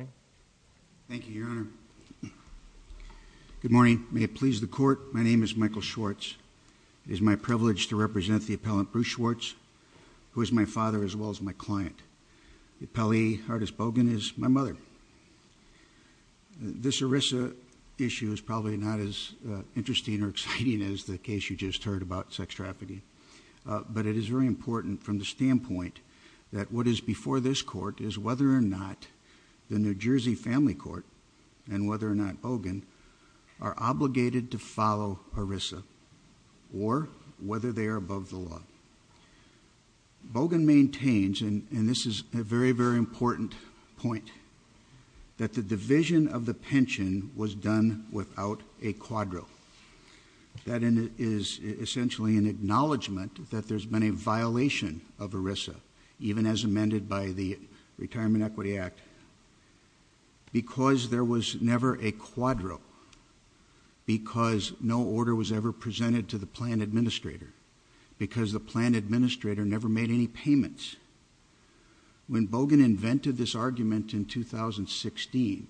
Good morning. May it please the court, my name is Michael Schwartz. It is my privilege to represent the appellant Bruce Schwartz, who is my father as well as my client. The appellee, Ardis Bogen, is my mother. This ERISA issue is probably not as interesting or exciting as the case you just heard about sex trafficking, but it is very important from the standpoint that what is before this court is whether or not the New Jersey Family Court and whether or not Bogen are obligated to follow ERISA or whether they are above the law. Bogen maintains, and this is a very, very important point, that the division of the pension was done without a quadro. That is essentially an acknowledgment that there was no division of ERISA, even as amended by the Retirement Equity Act, because there was never a quadro, because no order was ever presented to the plan administrator, because the plan administrator never made any payments. When Bogen invented this argument in 2016,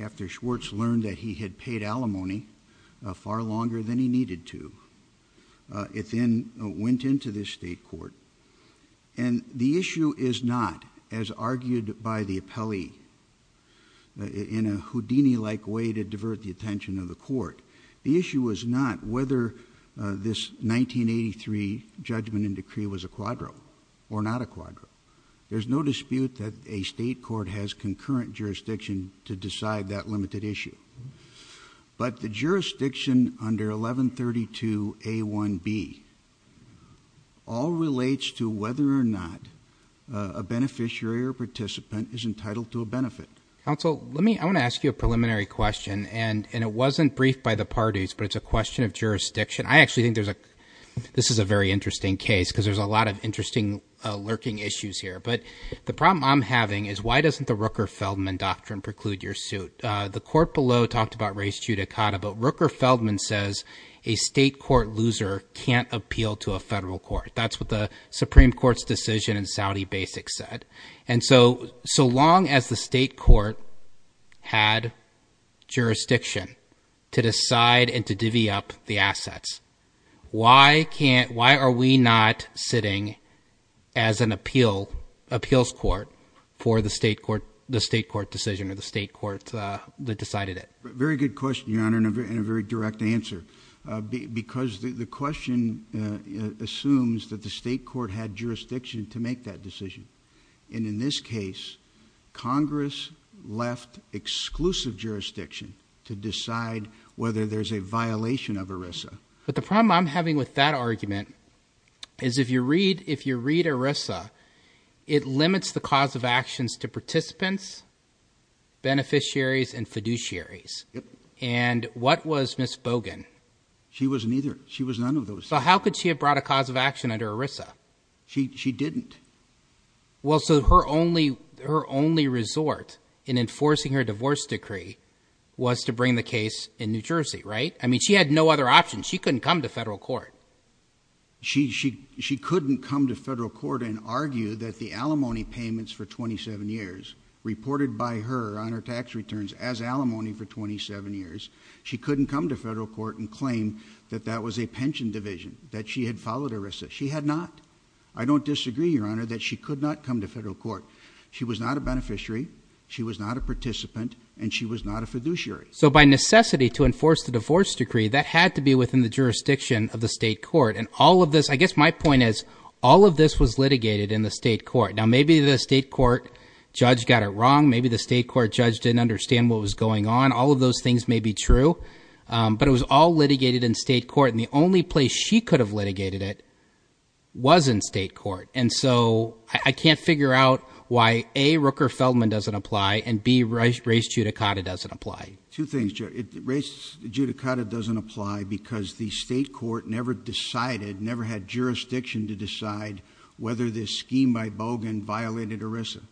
after Schwartz learned that he had paid alimony far longer than he needed to, it then went into this state court, and the issue is not, as argued by the appellee in a Houdini-like way to divert the attention of the court, the issue was not whether this 1983 judgment and decree was a quadro or not a quadro. There's no dispute that a state court has concurrent all relates to whether or not a beneficiary or participant is entitled to a benefit. Council, let me, I want to ask you a preliminary question, and it wasn't briefed by the parties, but it's a question of jurisdiction. I actually think there's a, this is a very interesting case, because there's a lot of interesting lurking issues here, but the problem I'm having is why doesn't the Rooker-Feldman doctrine preclude your suit? The court below talked about res judicata, but Rooker-Feldman says a state court loser can't appeal to a federal court. That's what the Supreme Court's decision in Saudi Basics said, and so, so long as the state court had jurisdiction to decide and to divvy up the assets, why can't, why are we not sitting as an appeal, appeals court for the state court, the state court decision or the state court that decided it? Very good question, Your Honor, and a very direct answer, because the question assumes that the state court had jurisdiction to make that decision, and in this case, Congress left exclusive jurisdiction to decide whether there's a violation of ERISA. But the problem I'm having with that argument is if you read, if you read ERISA, it limits the cause of actions to participants, beneficiaries, and fiduciaries, and what was Ms. Bogan? She wasn't either. She was none of those. So how could she have brought a cause of action under ERISA? She, she didn't. Well, so her only, her only resort in enforcing her divorce decree was to bring the case in New Jersey, right? I mean, she had no other option. She couldn't come to federal court. She, she, she couldn't come to federal court and argue that the alimony payments for 27 years reported by her on her tax returns as alimony for 27 years, she couldn't come to federal court and claim that that was a pension division, that she had followed ERISA. She had not. I don't disagree, Your Honor, that she could not come to federal court. She was not a beneficiary, she was not a participant, and she was not a fiduciary. So by necessity to enforce the divorce decree, that had to be within the jurisdiction of the state court. And all of this, I guess my point is, all of this was litigated in the state court. Now, maybe the state court judge got it wrong. Maybe the state court judge didn't understand what was going on. All of those things may be true. But it was all litigated in state court, and the only place she could have litigated it was in state court. And so I can't figure out why A, Rooker-Feldman doesn't apply, and B, race judicata doesn't apply. Two things, race judicata doesn't apply because the state court never decided, never had jurisdiction to decide whether this scheme by Bogan violated ERISA.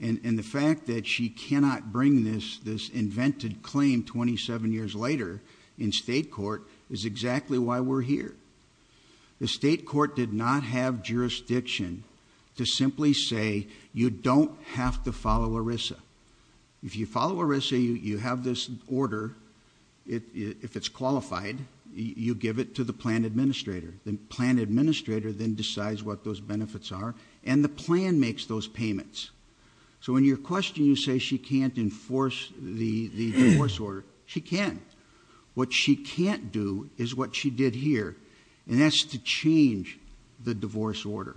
And the fact that she cannot bring this invented claim 27 years later in state court is exactly why we're here. The state court did not have jurisdiction to simply say, you don't have to follow ERISA. If you follow ERISA, you have this order. If it's qualified, you give it to the plan administrator. The plan administrator then decides what those benefits are, and the plan makes those payments. So when you're questioning, you say she can't enforce the divorce order. She can. What she can't do is what she did here, and that's to change the divorce order.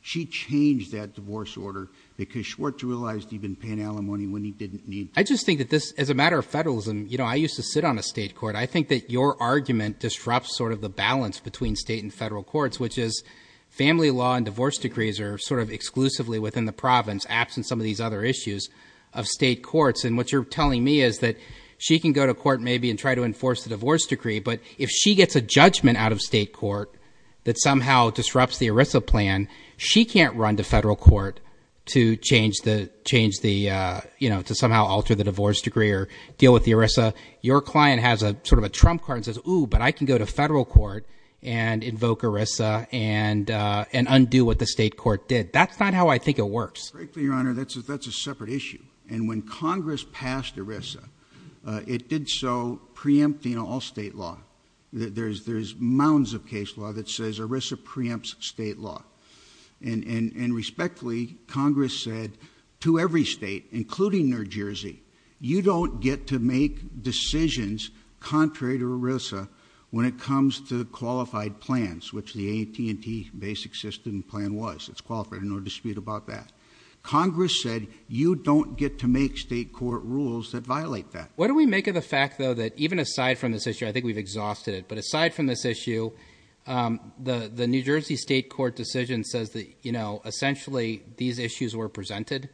She changed that divorce order because Schwartz realized he'd been paying alimony when he didn't need to. I just think that this, as a matter of federalism, you know, I used to sit on a state court. I think that your argument disrupts sort of the balance between state and federal courts, which is family law and divorce decrees are sort of exclusively within the province, absent some of these other issues of state courts. And what you're telling me is that she can go to court maybe and try to enforce the divorce decree, but if she gets a judgment out of state court that somehow disrupts the ERISA plan, she can't run to federal court to change the, you know, to somehow alter the divorce decree or deal with the ERISA. Your client has a sort of a trump card and says, ooh, but I can go to federal court and invoke ERISA and undo what the state court did. That's not how I think it works. Frankly, your honor, that's a separate issue. And when Congress passed ERISA, it did so preempting all state law. There's mounds of case law that says ERISA preempts state law. And respectfully, Congress said to every state, including New Jersey, you don't get to make decisions contrary to ERISA when it comes to qualified plans, which the AT&T basic system plan was. It's qualified, no dispute about that. Congress said you don't get to make state court rules that violate that. What do we make of the fact, though, that even aside from this issue, I think we've exhausted it. But aside from this issue, the New Jersey state court decision says that, you know, essentially these issues were presented.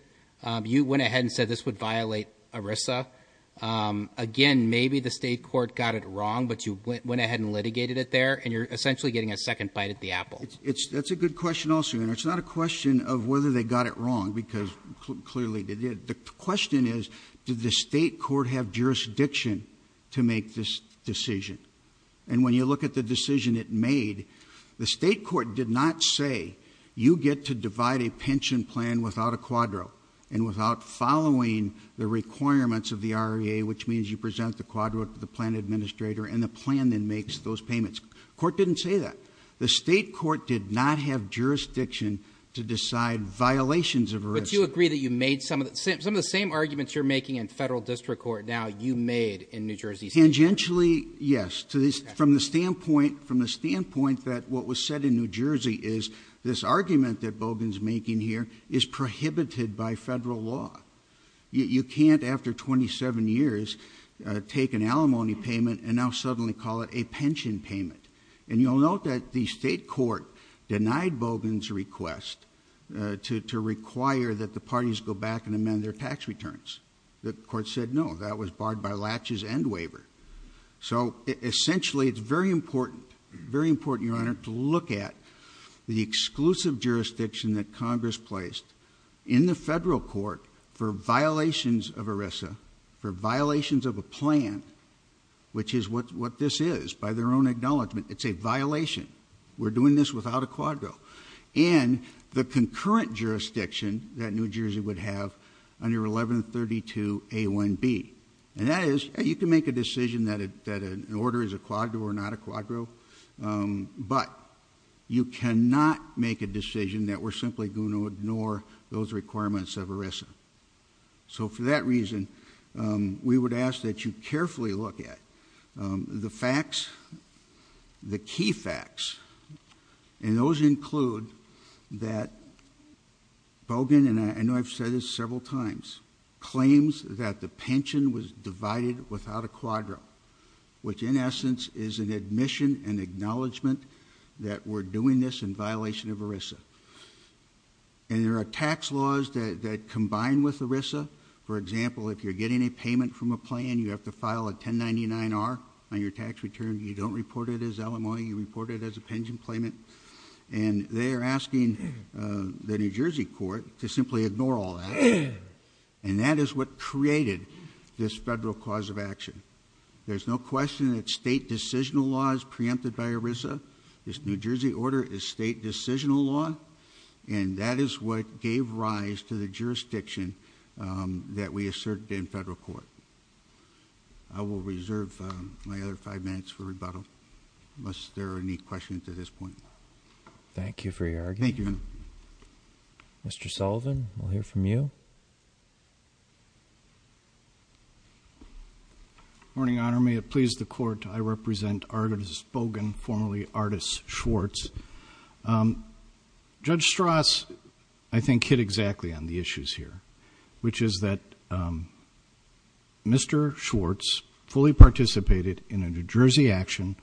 You went ahead and said this would violate ERISA. Again, maybe the state court got it wrong, but you went ahead and litigated it there. And you're essentially getting a second bite at the apple. It's that's a good question also. And it's not a question of whether they got it wrong, because clearly they did. The question is, did the state court have jurisdiction to make this decision? And when you look at the decision it made, the state court did not say you get to divide a pension plan without a quadro and without following the requirements of the REA, which means you present the quadro to the plan administrator and the plan then makes those payments. Court didn't say that. The state court did not have jurisdiction to decide violations of ERISA. Do you agree that you made some of the same arguments you're making in federal district court now you made in New Jersey? Tangentially, yes. From the standpoint that what was said in New Jersey is this argument that Bogan's making here is prohibited by federal law. You can't, after 27 years, take an alimony payment and now suddenly call it a pension payment. And you'll note that the state court denied Bogan's request to require that the parties go back and amend their tax returns. The court said no, that was barred by laches and waiver. So essentially, it's very important, very important, Your Honor, to look at the exclusive jurisdiction that Congress placed in the federal court for violations of ERISA, for violations of a plan, which is what this is, their own acknowledgment. It's a violation. We're doing this without a quadro. And the concurrent jurisdiction that New Jersey would have under 1132A1B. And that is, you can make a decision that an order is a quadro or not a quadro, but you cannot make a decision that we're simply going to ignore those requirements of ERISA. So for that reason, we would ask that you carefully look at the facts, the key facts, and those include that Bogan, and I know I've said this several times, claims that the pension was divided without a quadro, which in essence is an admission and acknowledgment that we're doing this in violation of ERISA. And there are tax laws that combine with ERISA. For example, if you're getting a payment from a file of 1099R on your tax return, you don't report it as LMO, you report it as a pension claimant. And they're asking the New Jersey court to simply ignore all that. And that is what created this federal cause of action. There's no question that state decisional law is preempted by ERISA. This New Jersey order is state decisional law. And that is what gave rise to the I will reserve my other five minutes for rebuttal unless there are any questions at this point. Thank you for your argument. Thank you, Your Honor. Mr. Sullivan, we'll hear from you. Good morning, Your Honor. May it please the court, I represent artist Bogan, formerly artist Schwartz. Judge Strauss, I think, hit exactly on the issues here, which is that Mr. Schwartz fully participated in a New Jersey action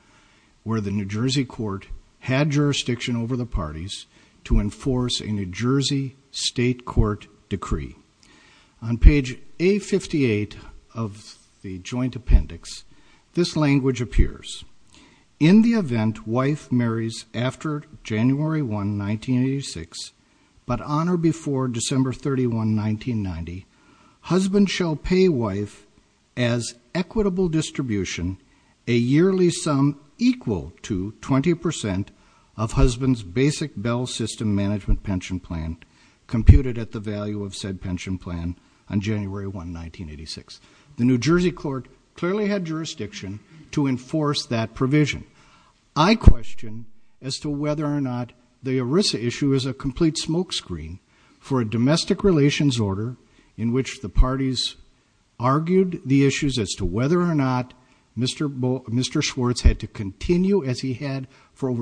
where the New Jersey court had jurisdiction over the parties to enforce a New Jersey state court decree. On page A58 of the joint appendix, this language appears. In the event wife marries after January 1, 1986, but on or before December 31, 1990, husband shall pay wife as equitable distribution a yearly sum equal to 20 percent of husband's basic bell system management pension plan computed at the value of said pension plan on January 1, 1986. The New Jersey court clearly had jurisdiction to enforce that provision. I question as to whether or not the ERISA issue is a complete smokescreen for a domestic relations order in which the parties argued the issues as to whether or not Mr. Schwartz had to continue as did. That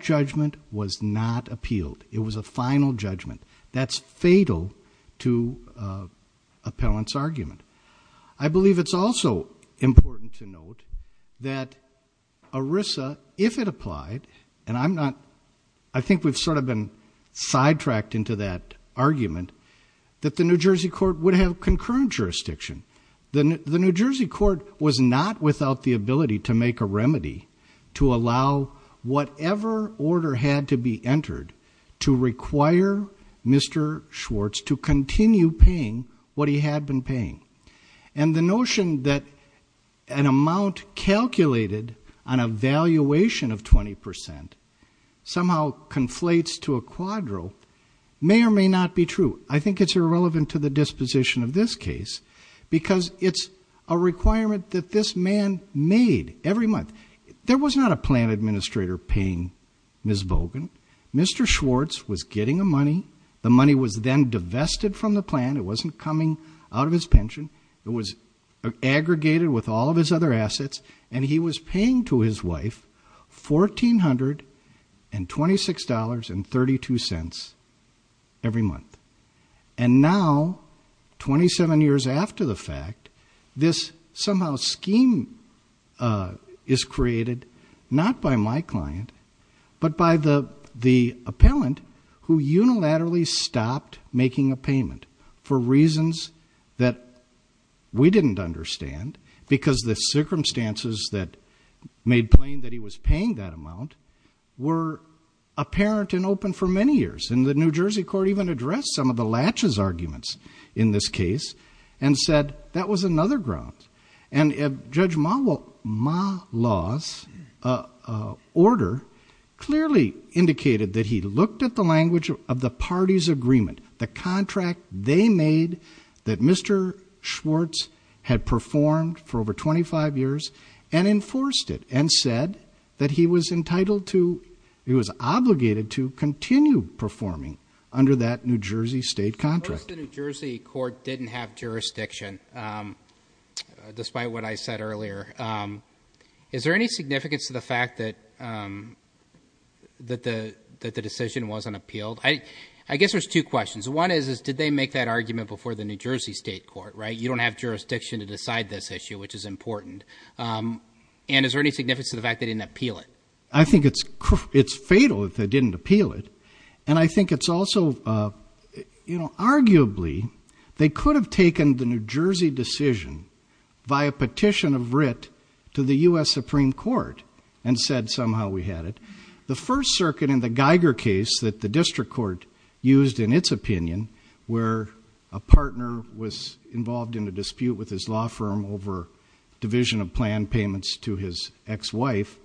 judgment was not appealed. It was a final judgment. That's fatal to appellant's argument. I believe it's also important to note that ERISA, if it applied, and I'm not, I think we've sort of been sidetracked into that argument, that the New Jersey court would have concurrent jurisdiction. The New Jersey court was not without the ability to make a remedy to allow whatever order had to be entered to require Mr. Schwartz to continue paying what he had been paying. And the notion that an amount calculated on a valuation of 20 percent somehow conflates to a quadro may or may not be true. I think it's irrelevant to the disposition of this case because it's a requirement that this man made every month. There was not a plan administrator paying Ms. Bogan. Mr. Schwartz was getting the money. The money was then divested from the plan. It wasn't coming out of his pension. It was aggregated with all of his other assets. And he was paying to his wife $1,426.32 every month. And now, 27 years after the fact, this somehow scheme is created not by my client, but by the appellant who unilaterally stopped making a payment for reasons that we didn't understand because the circumstances that made plain that he was paying that amount were apparent and open for many years. And the New Jersey court even addressed some of the latches arguments in this case and said that was another ground. And Judge Malas' order clearly indicated that he looked at the language of the party's agreement, the contract they made that Mr. Schwartz had performed for over 25 years and enforced it and said that he was entitled to, he was obligated to continue performing under that New Jersey state contract. First, the New Jersey court didn't have jurisdiction, despite what I said earlier. Is there any significance to the fact that the decision wasn't appealed? I guess there's two questions. One is, did they make that argument before the New Jersey state court, right? You don't have jurisdiction to decide this issue, which is important. And is there any significance to the fact they didn't appeal it? I think it's fatal if they didn't appeal it. And I think it's the first circuit in the Geiger case that the district court used in its opinion, where a partner was involved in a dispute with his law firm over division of plan payments to his ex-wife.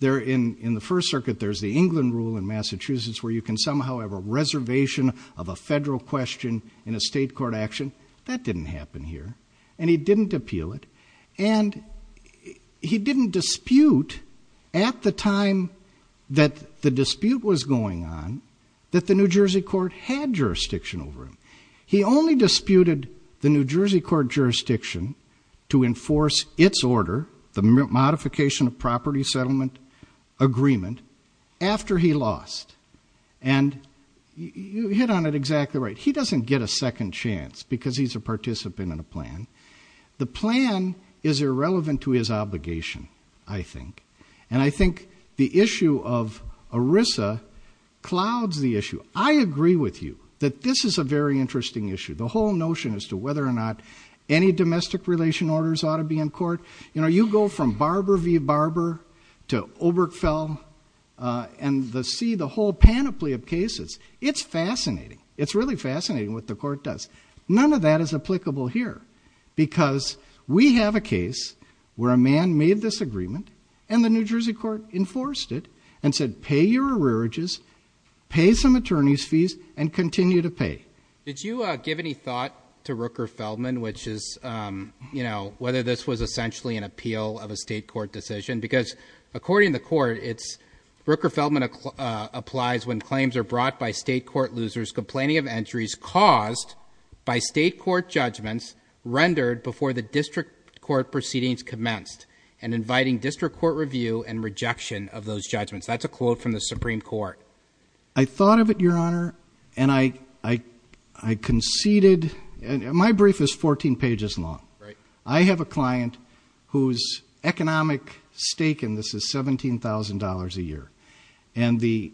In the first circuit, there's the England rule in Massachusetts where you can somehow have a reservation of a federal question in a state court action. That didn't happen here. And he didn't dispute at the time that the dispute was going on that the New Jersey court had jurisdiction over him. He only disputed the New Jersey court jurisdiction to enforce its order, the modification of property settlement agreement, after he lost. And you hit on it exactly right. He doesn't get a second chance because he's a participant in a plan. The plan is irrelevant to his obligation, I think. And I think the issue of ERISA clouds the issue. I agree with you that this is a very interesting issue. The whole notion as to whether or not any domestic relation orders ought to be in court. You go from Barber v. Barber to Obergefell and see the whole panoply of cases. It's fascinating. It's really fascinating what the court does. None of that is applicable here because we have a case where a man made this agreement and the New Jersey court enforced it and said, pay your arrearages, pay some attorney's fees, and continue to pay. Did you give any thought to Rooker-Feldman, which is whether this was essentially an appeal of a state court decision? Because according to the court, Rooker-Feldman applies when claims are by state court judgments rendered before the district court proceedings commenced and inviting district court review and rejection of those judgments. That's a quote from the Supreme Court. I thought of it, Your Honor, and I conceded. My brief is 14 pages long. I have a client whose economic stake in this is $17,000 a year. And the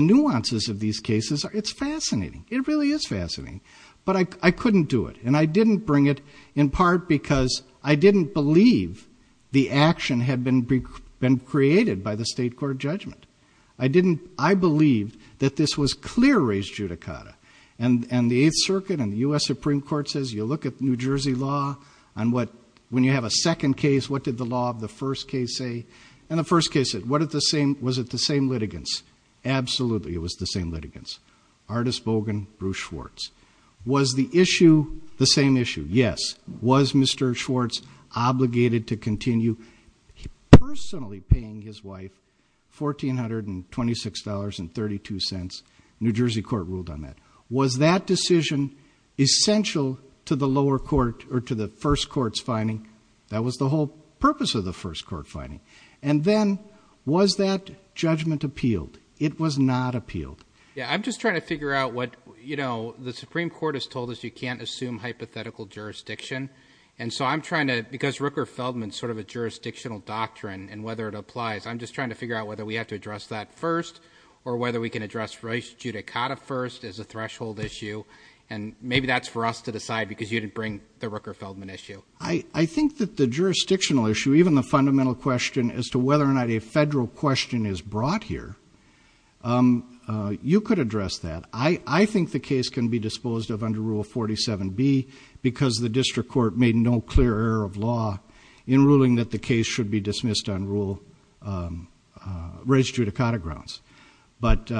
nuances of these cases, it's fascinating. It really is fascinating. But I couldn't do it. And I didn't bring it in part because I didn't believe the action had been created by the state court judgment. I believed that this was clear-raised judicata. And the Eighth Circuit and the U.S. Supreme Court says, you look at New Jersey law on what, when you have a second case, what did the law of the first case say? And the first case said, was it the same litigants? Absolutely it was the litigants. Artis Bogan, Bruce Schwartz. Was the issue the same issue? Yes. Was Mr. Schwartz obligated to continue personally paying his wife $1,426.32? New Jersey court ruled on that. Was that decision essential to the lower court or to the first court's finding? That was the whole Yeah. I'm just trying to figure out what, you know, the Supreme Court has told us you can't assume hypothetical jurisdiction. And so I'm trying to, because Rooker-Feldman sort of a jurisdictional doctrine and whether it applies, I'm just trying to figure out whether we have to address that first or whether we can address race judicata first as a threshold issue. And maybe that's for us to decide because you didn't bring the Rooker-Feldman issue. I think that the jurisdictional issue, even the fundamental question as to whether or not a could address that. I think the case can be disposed of under rule 47B because the district court made no clear error of law in ruling that the case should be dismissed on rule race judicata grounds. But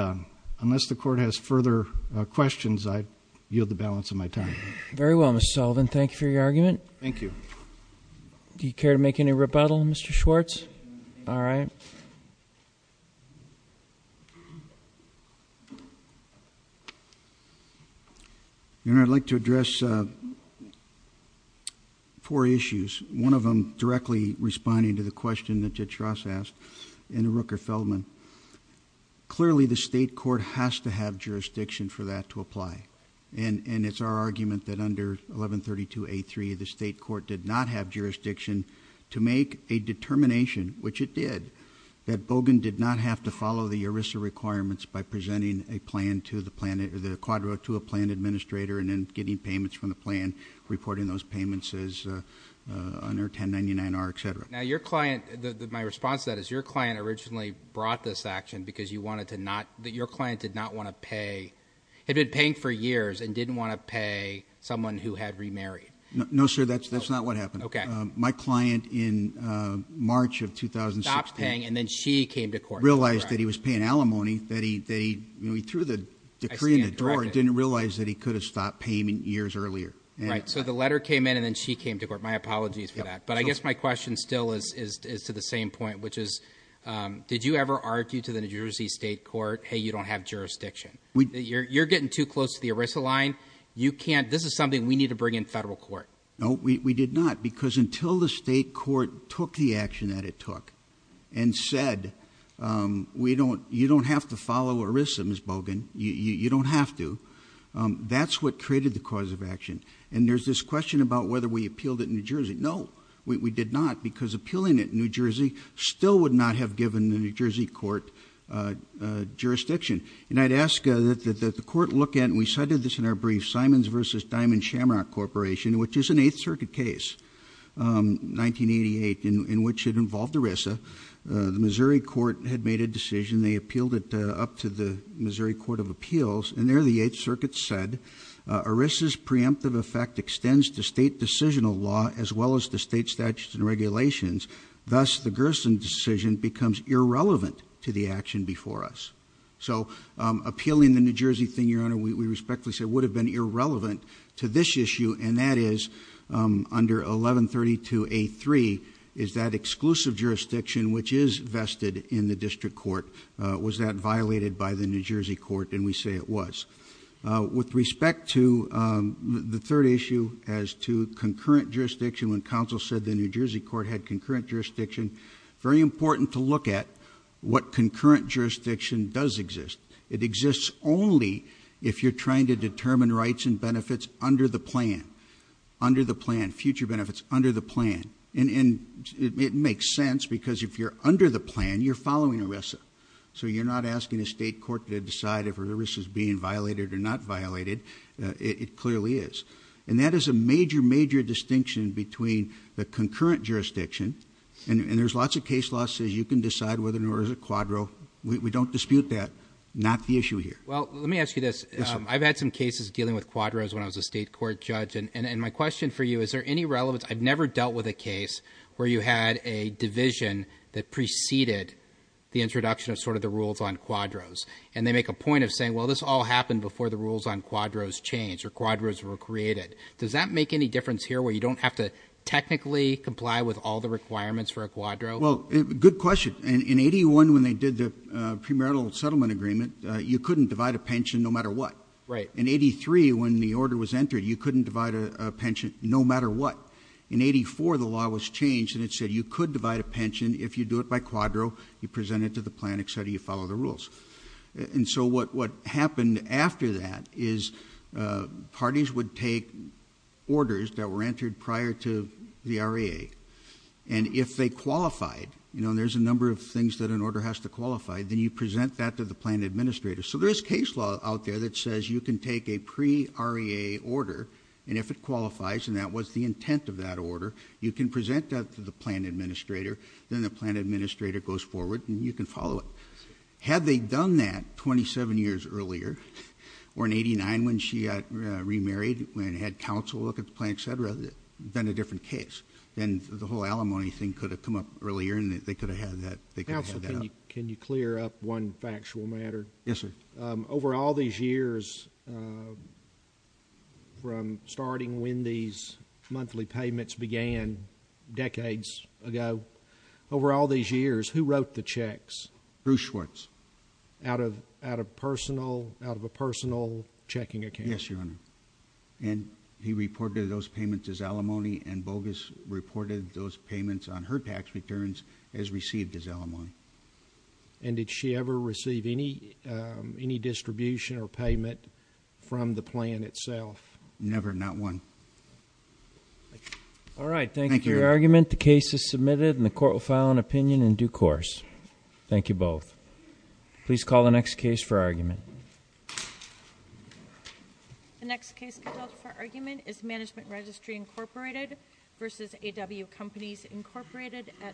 unless the court has further questions, I yield the balance of my time. Very well, Mr. Sullivan. Thank you for your argument. Thank you. Do you care to make any rebuttal, Mr. Schwartz? All right. I'd like to address four issues, one of them directly responding to the question that Jitras asked in Rooker-Feldman. Clearly, the state court has to have jurisdiction for that to apply. And it's our argument that under 1132A3, the state court did not have jurisdiction to make a determination, which it did, that Bogan did not have to follow the ERISA requirements by presenting a plan to a plan administrator and then getting payments from the plan, reporting those payments as under 1099R, et cetera. Now, your client, my response to that is your client originally brought this action because you wanted to not, your client did not want to pay, had been paying for years and didn't want to pay someone who had remarried. No, sir, that's not what happened. Okay. My client in March of 2016 Stopped paying and then she came to court. Realized that he was paying alimony, that he threw the decree in the drawer and didn't realize that he could have stopped payment years earlier. Right. So the letter came in and then she came to court. My apologies for that. But I guess my question still is to the same point, which is, did you ever argue to the New Jersey state court, hey, you don't have jurisdiction? You're getting too close to the ERISA line. You can't, this is something we need to bring in federal court. No, we did not. Because until the state court took the action that it took and said, we don't, you don't have to follow ERISA Ms. Bogan. You don't have to. That's what created the cause of action. And there's this question about whether we appealed it in New Jersey. No, we did not because appealing it in New Jersey still would not have given the New Jersey court jurisdiction. And I'd ask that the court look at, and we cited this in our brief, Simons versus Diamond Shamrock Corporation, which is an eighth circuit case, 1988, in which it involved ERISA. The Missouri court had made a decision. They appealed it up to the Missouri court of appeals and there the eighth circuit said, ERISA's preemptive effect extends to state decisional law, as well as the state statutes and regulations. Thus the Gerson decision becomes irrelevant to the action before us. So appealing the New Jersey thing, Your Honor, we respectfully say would have been irrelevant to this issue. And that is under 1132A3, is that exclusive jurisdiction, which is vested in the district court, was that violated by the New Jersey court? And we say it was. With respect to the third issue as to concurrent jurisdiction, when counsel said the New Jersey court had concurrent jurisdiction, very important to look at what concurrent jurisdiction does exist. It exists only if you're trying to determine rights and benefits under the plan, under the plan, future benefits under the plan. And it makes sense because if you're under the plan, you're following ERISA. So you're not asking a state court to decide if ERISA's being violated or not violated. It clearly is. And that is a major, major distinction between the concurrent jurisdiction, and there's lots of case laws says you can decide whether it's a concurrent jurisdiction or a quadro. We don't dispute that. Not the issue here. Well, let me ask you this. I've had some cases dealing with quadros when I was a state court judge. And my question for you, is there any relevance? I've never dealt with a case where you had a division that preceded the introduction of sort of the rules on quadros. And they make a point of saying, well, this all happened before the rules on quadros changed or quadros were created. Does that make any difference here where you don't have to technically comply with all the requirements for a quadro? Well, good question. In 81, when they did the premarital settlement agreement, you couldn't divide a pension no matter what. In 83, when the order was entered, you couldn't divide a pension no matter what. In 84, the law was changed and it said you could divide a pension if you do it by quadro, you present it to the plan, etc. You follow the rules. And so what happened after that is parties would take orders that were entered prior to the REA. And if they qualified, there's a number of things that an order has to qualify, then you present that to the plan administrator. So there's case law out there that says you can take a pre-REA order, and if it qualifies, and that was the intent of that order, you can present that to the plan administrator, then the plan administrator goes forward and you can follow it. Had they done that 27 years earlier, or in 89, when she got remarried and had counsel look at the plan, etc., then a different case. Then the whole alimony thing could have come up earlier and they could have had that. Counsel, can you clear up one factual matter? Yes, sir. Over all these years, from starting when these monthly payments began decades ago, over all these years, who wrote the checks? Bruce Schwartz. Out of a personal checking account? Yes, Your Honor. And he reported those payments as alimony, and Bogus reported those payments on her tax returns as received as alimony. And did she ever receive any distribution or payment from the plan itself? Never, not one. All right, thank you for your argument. The case is submitted and the court will file an opinion in due course. Thank you both. Please call the next case for argument. The next case for argument is Management Registry, Incorporated v. A.W. Companies, Incorporated, et al.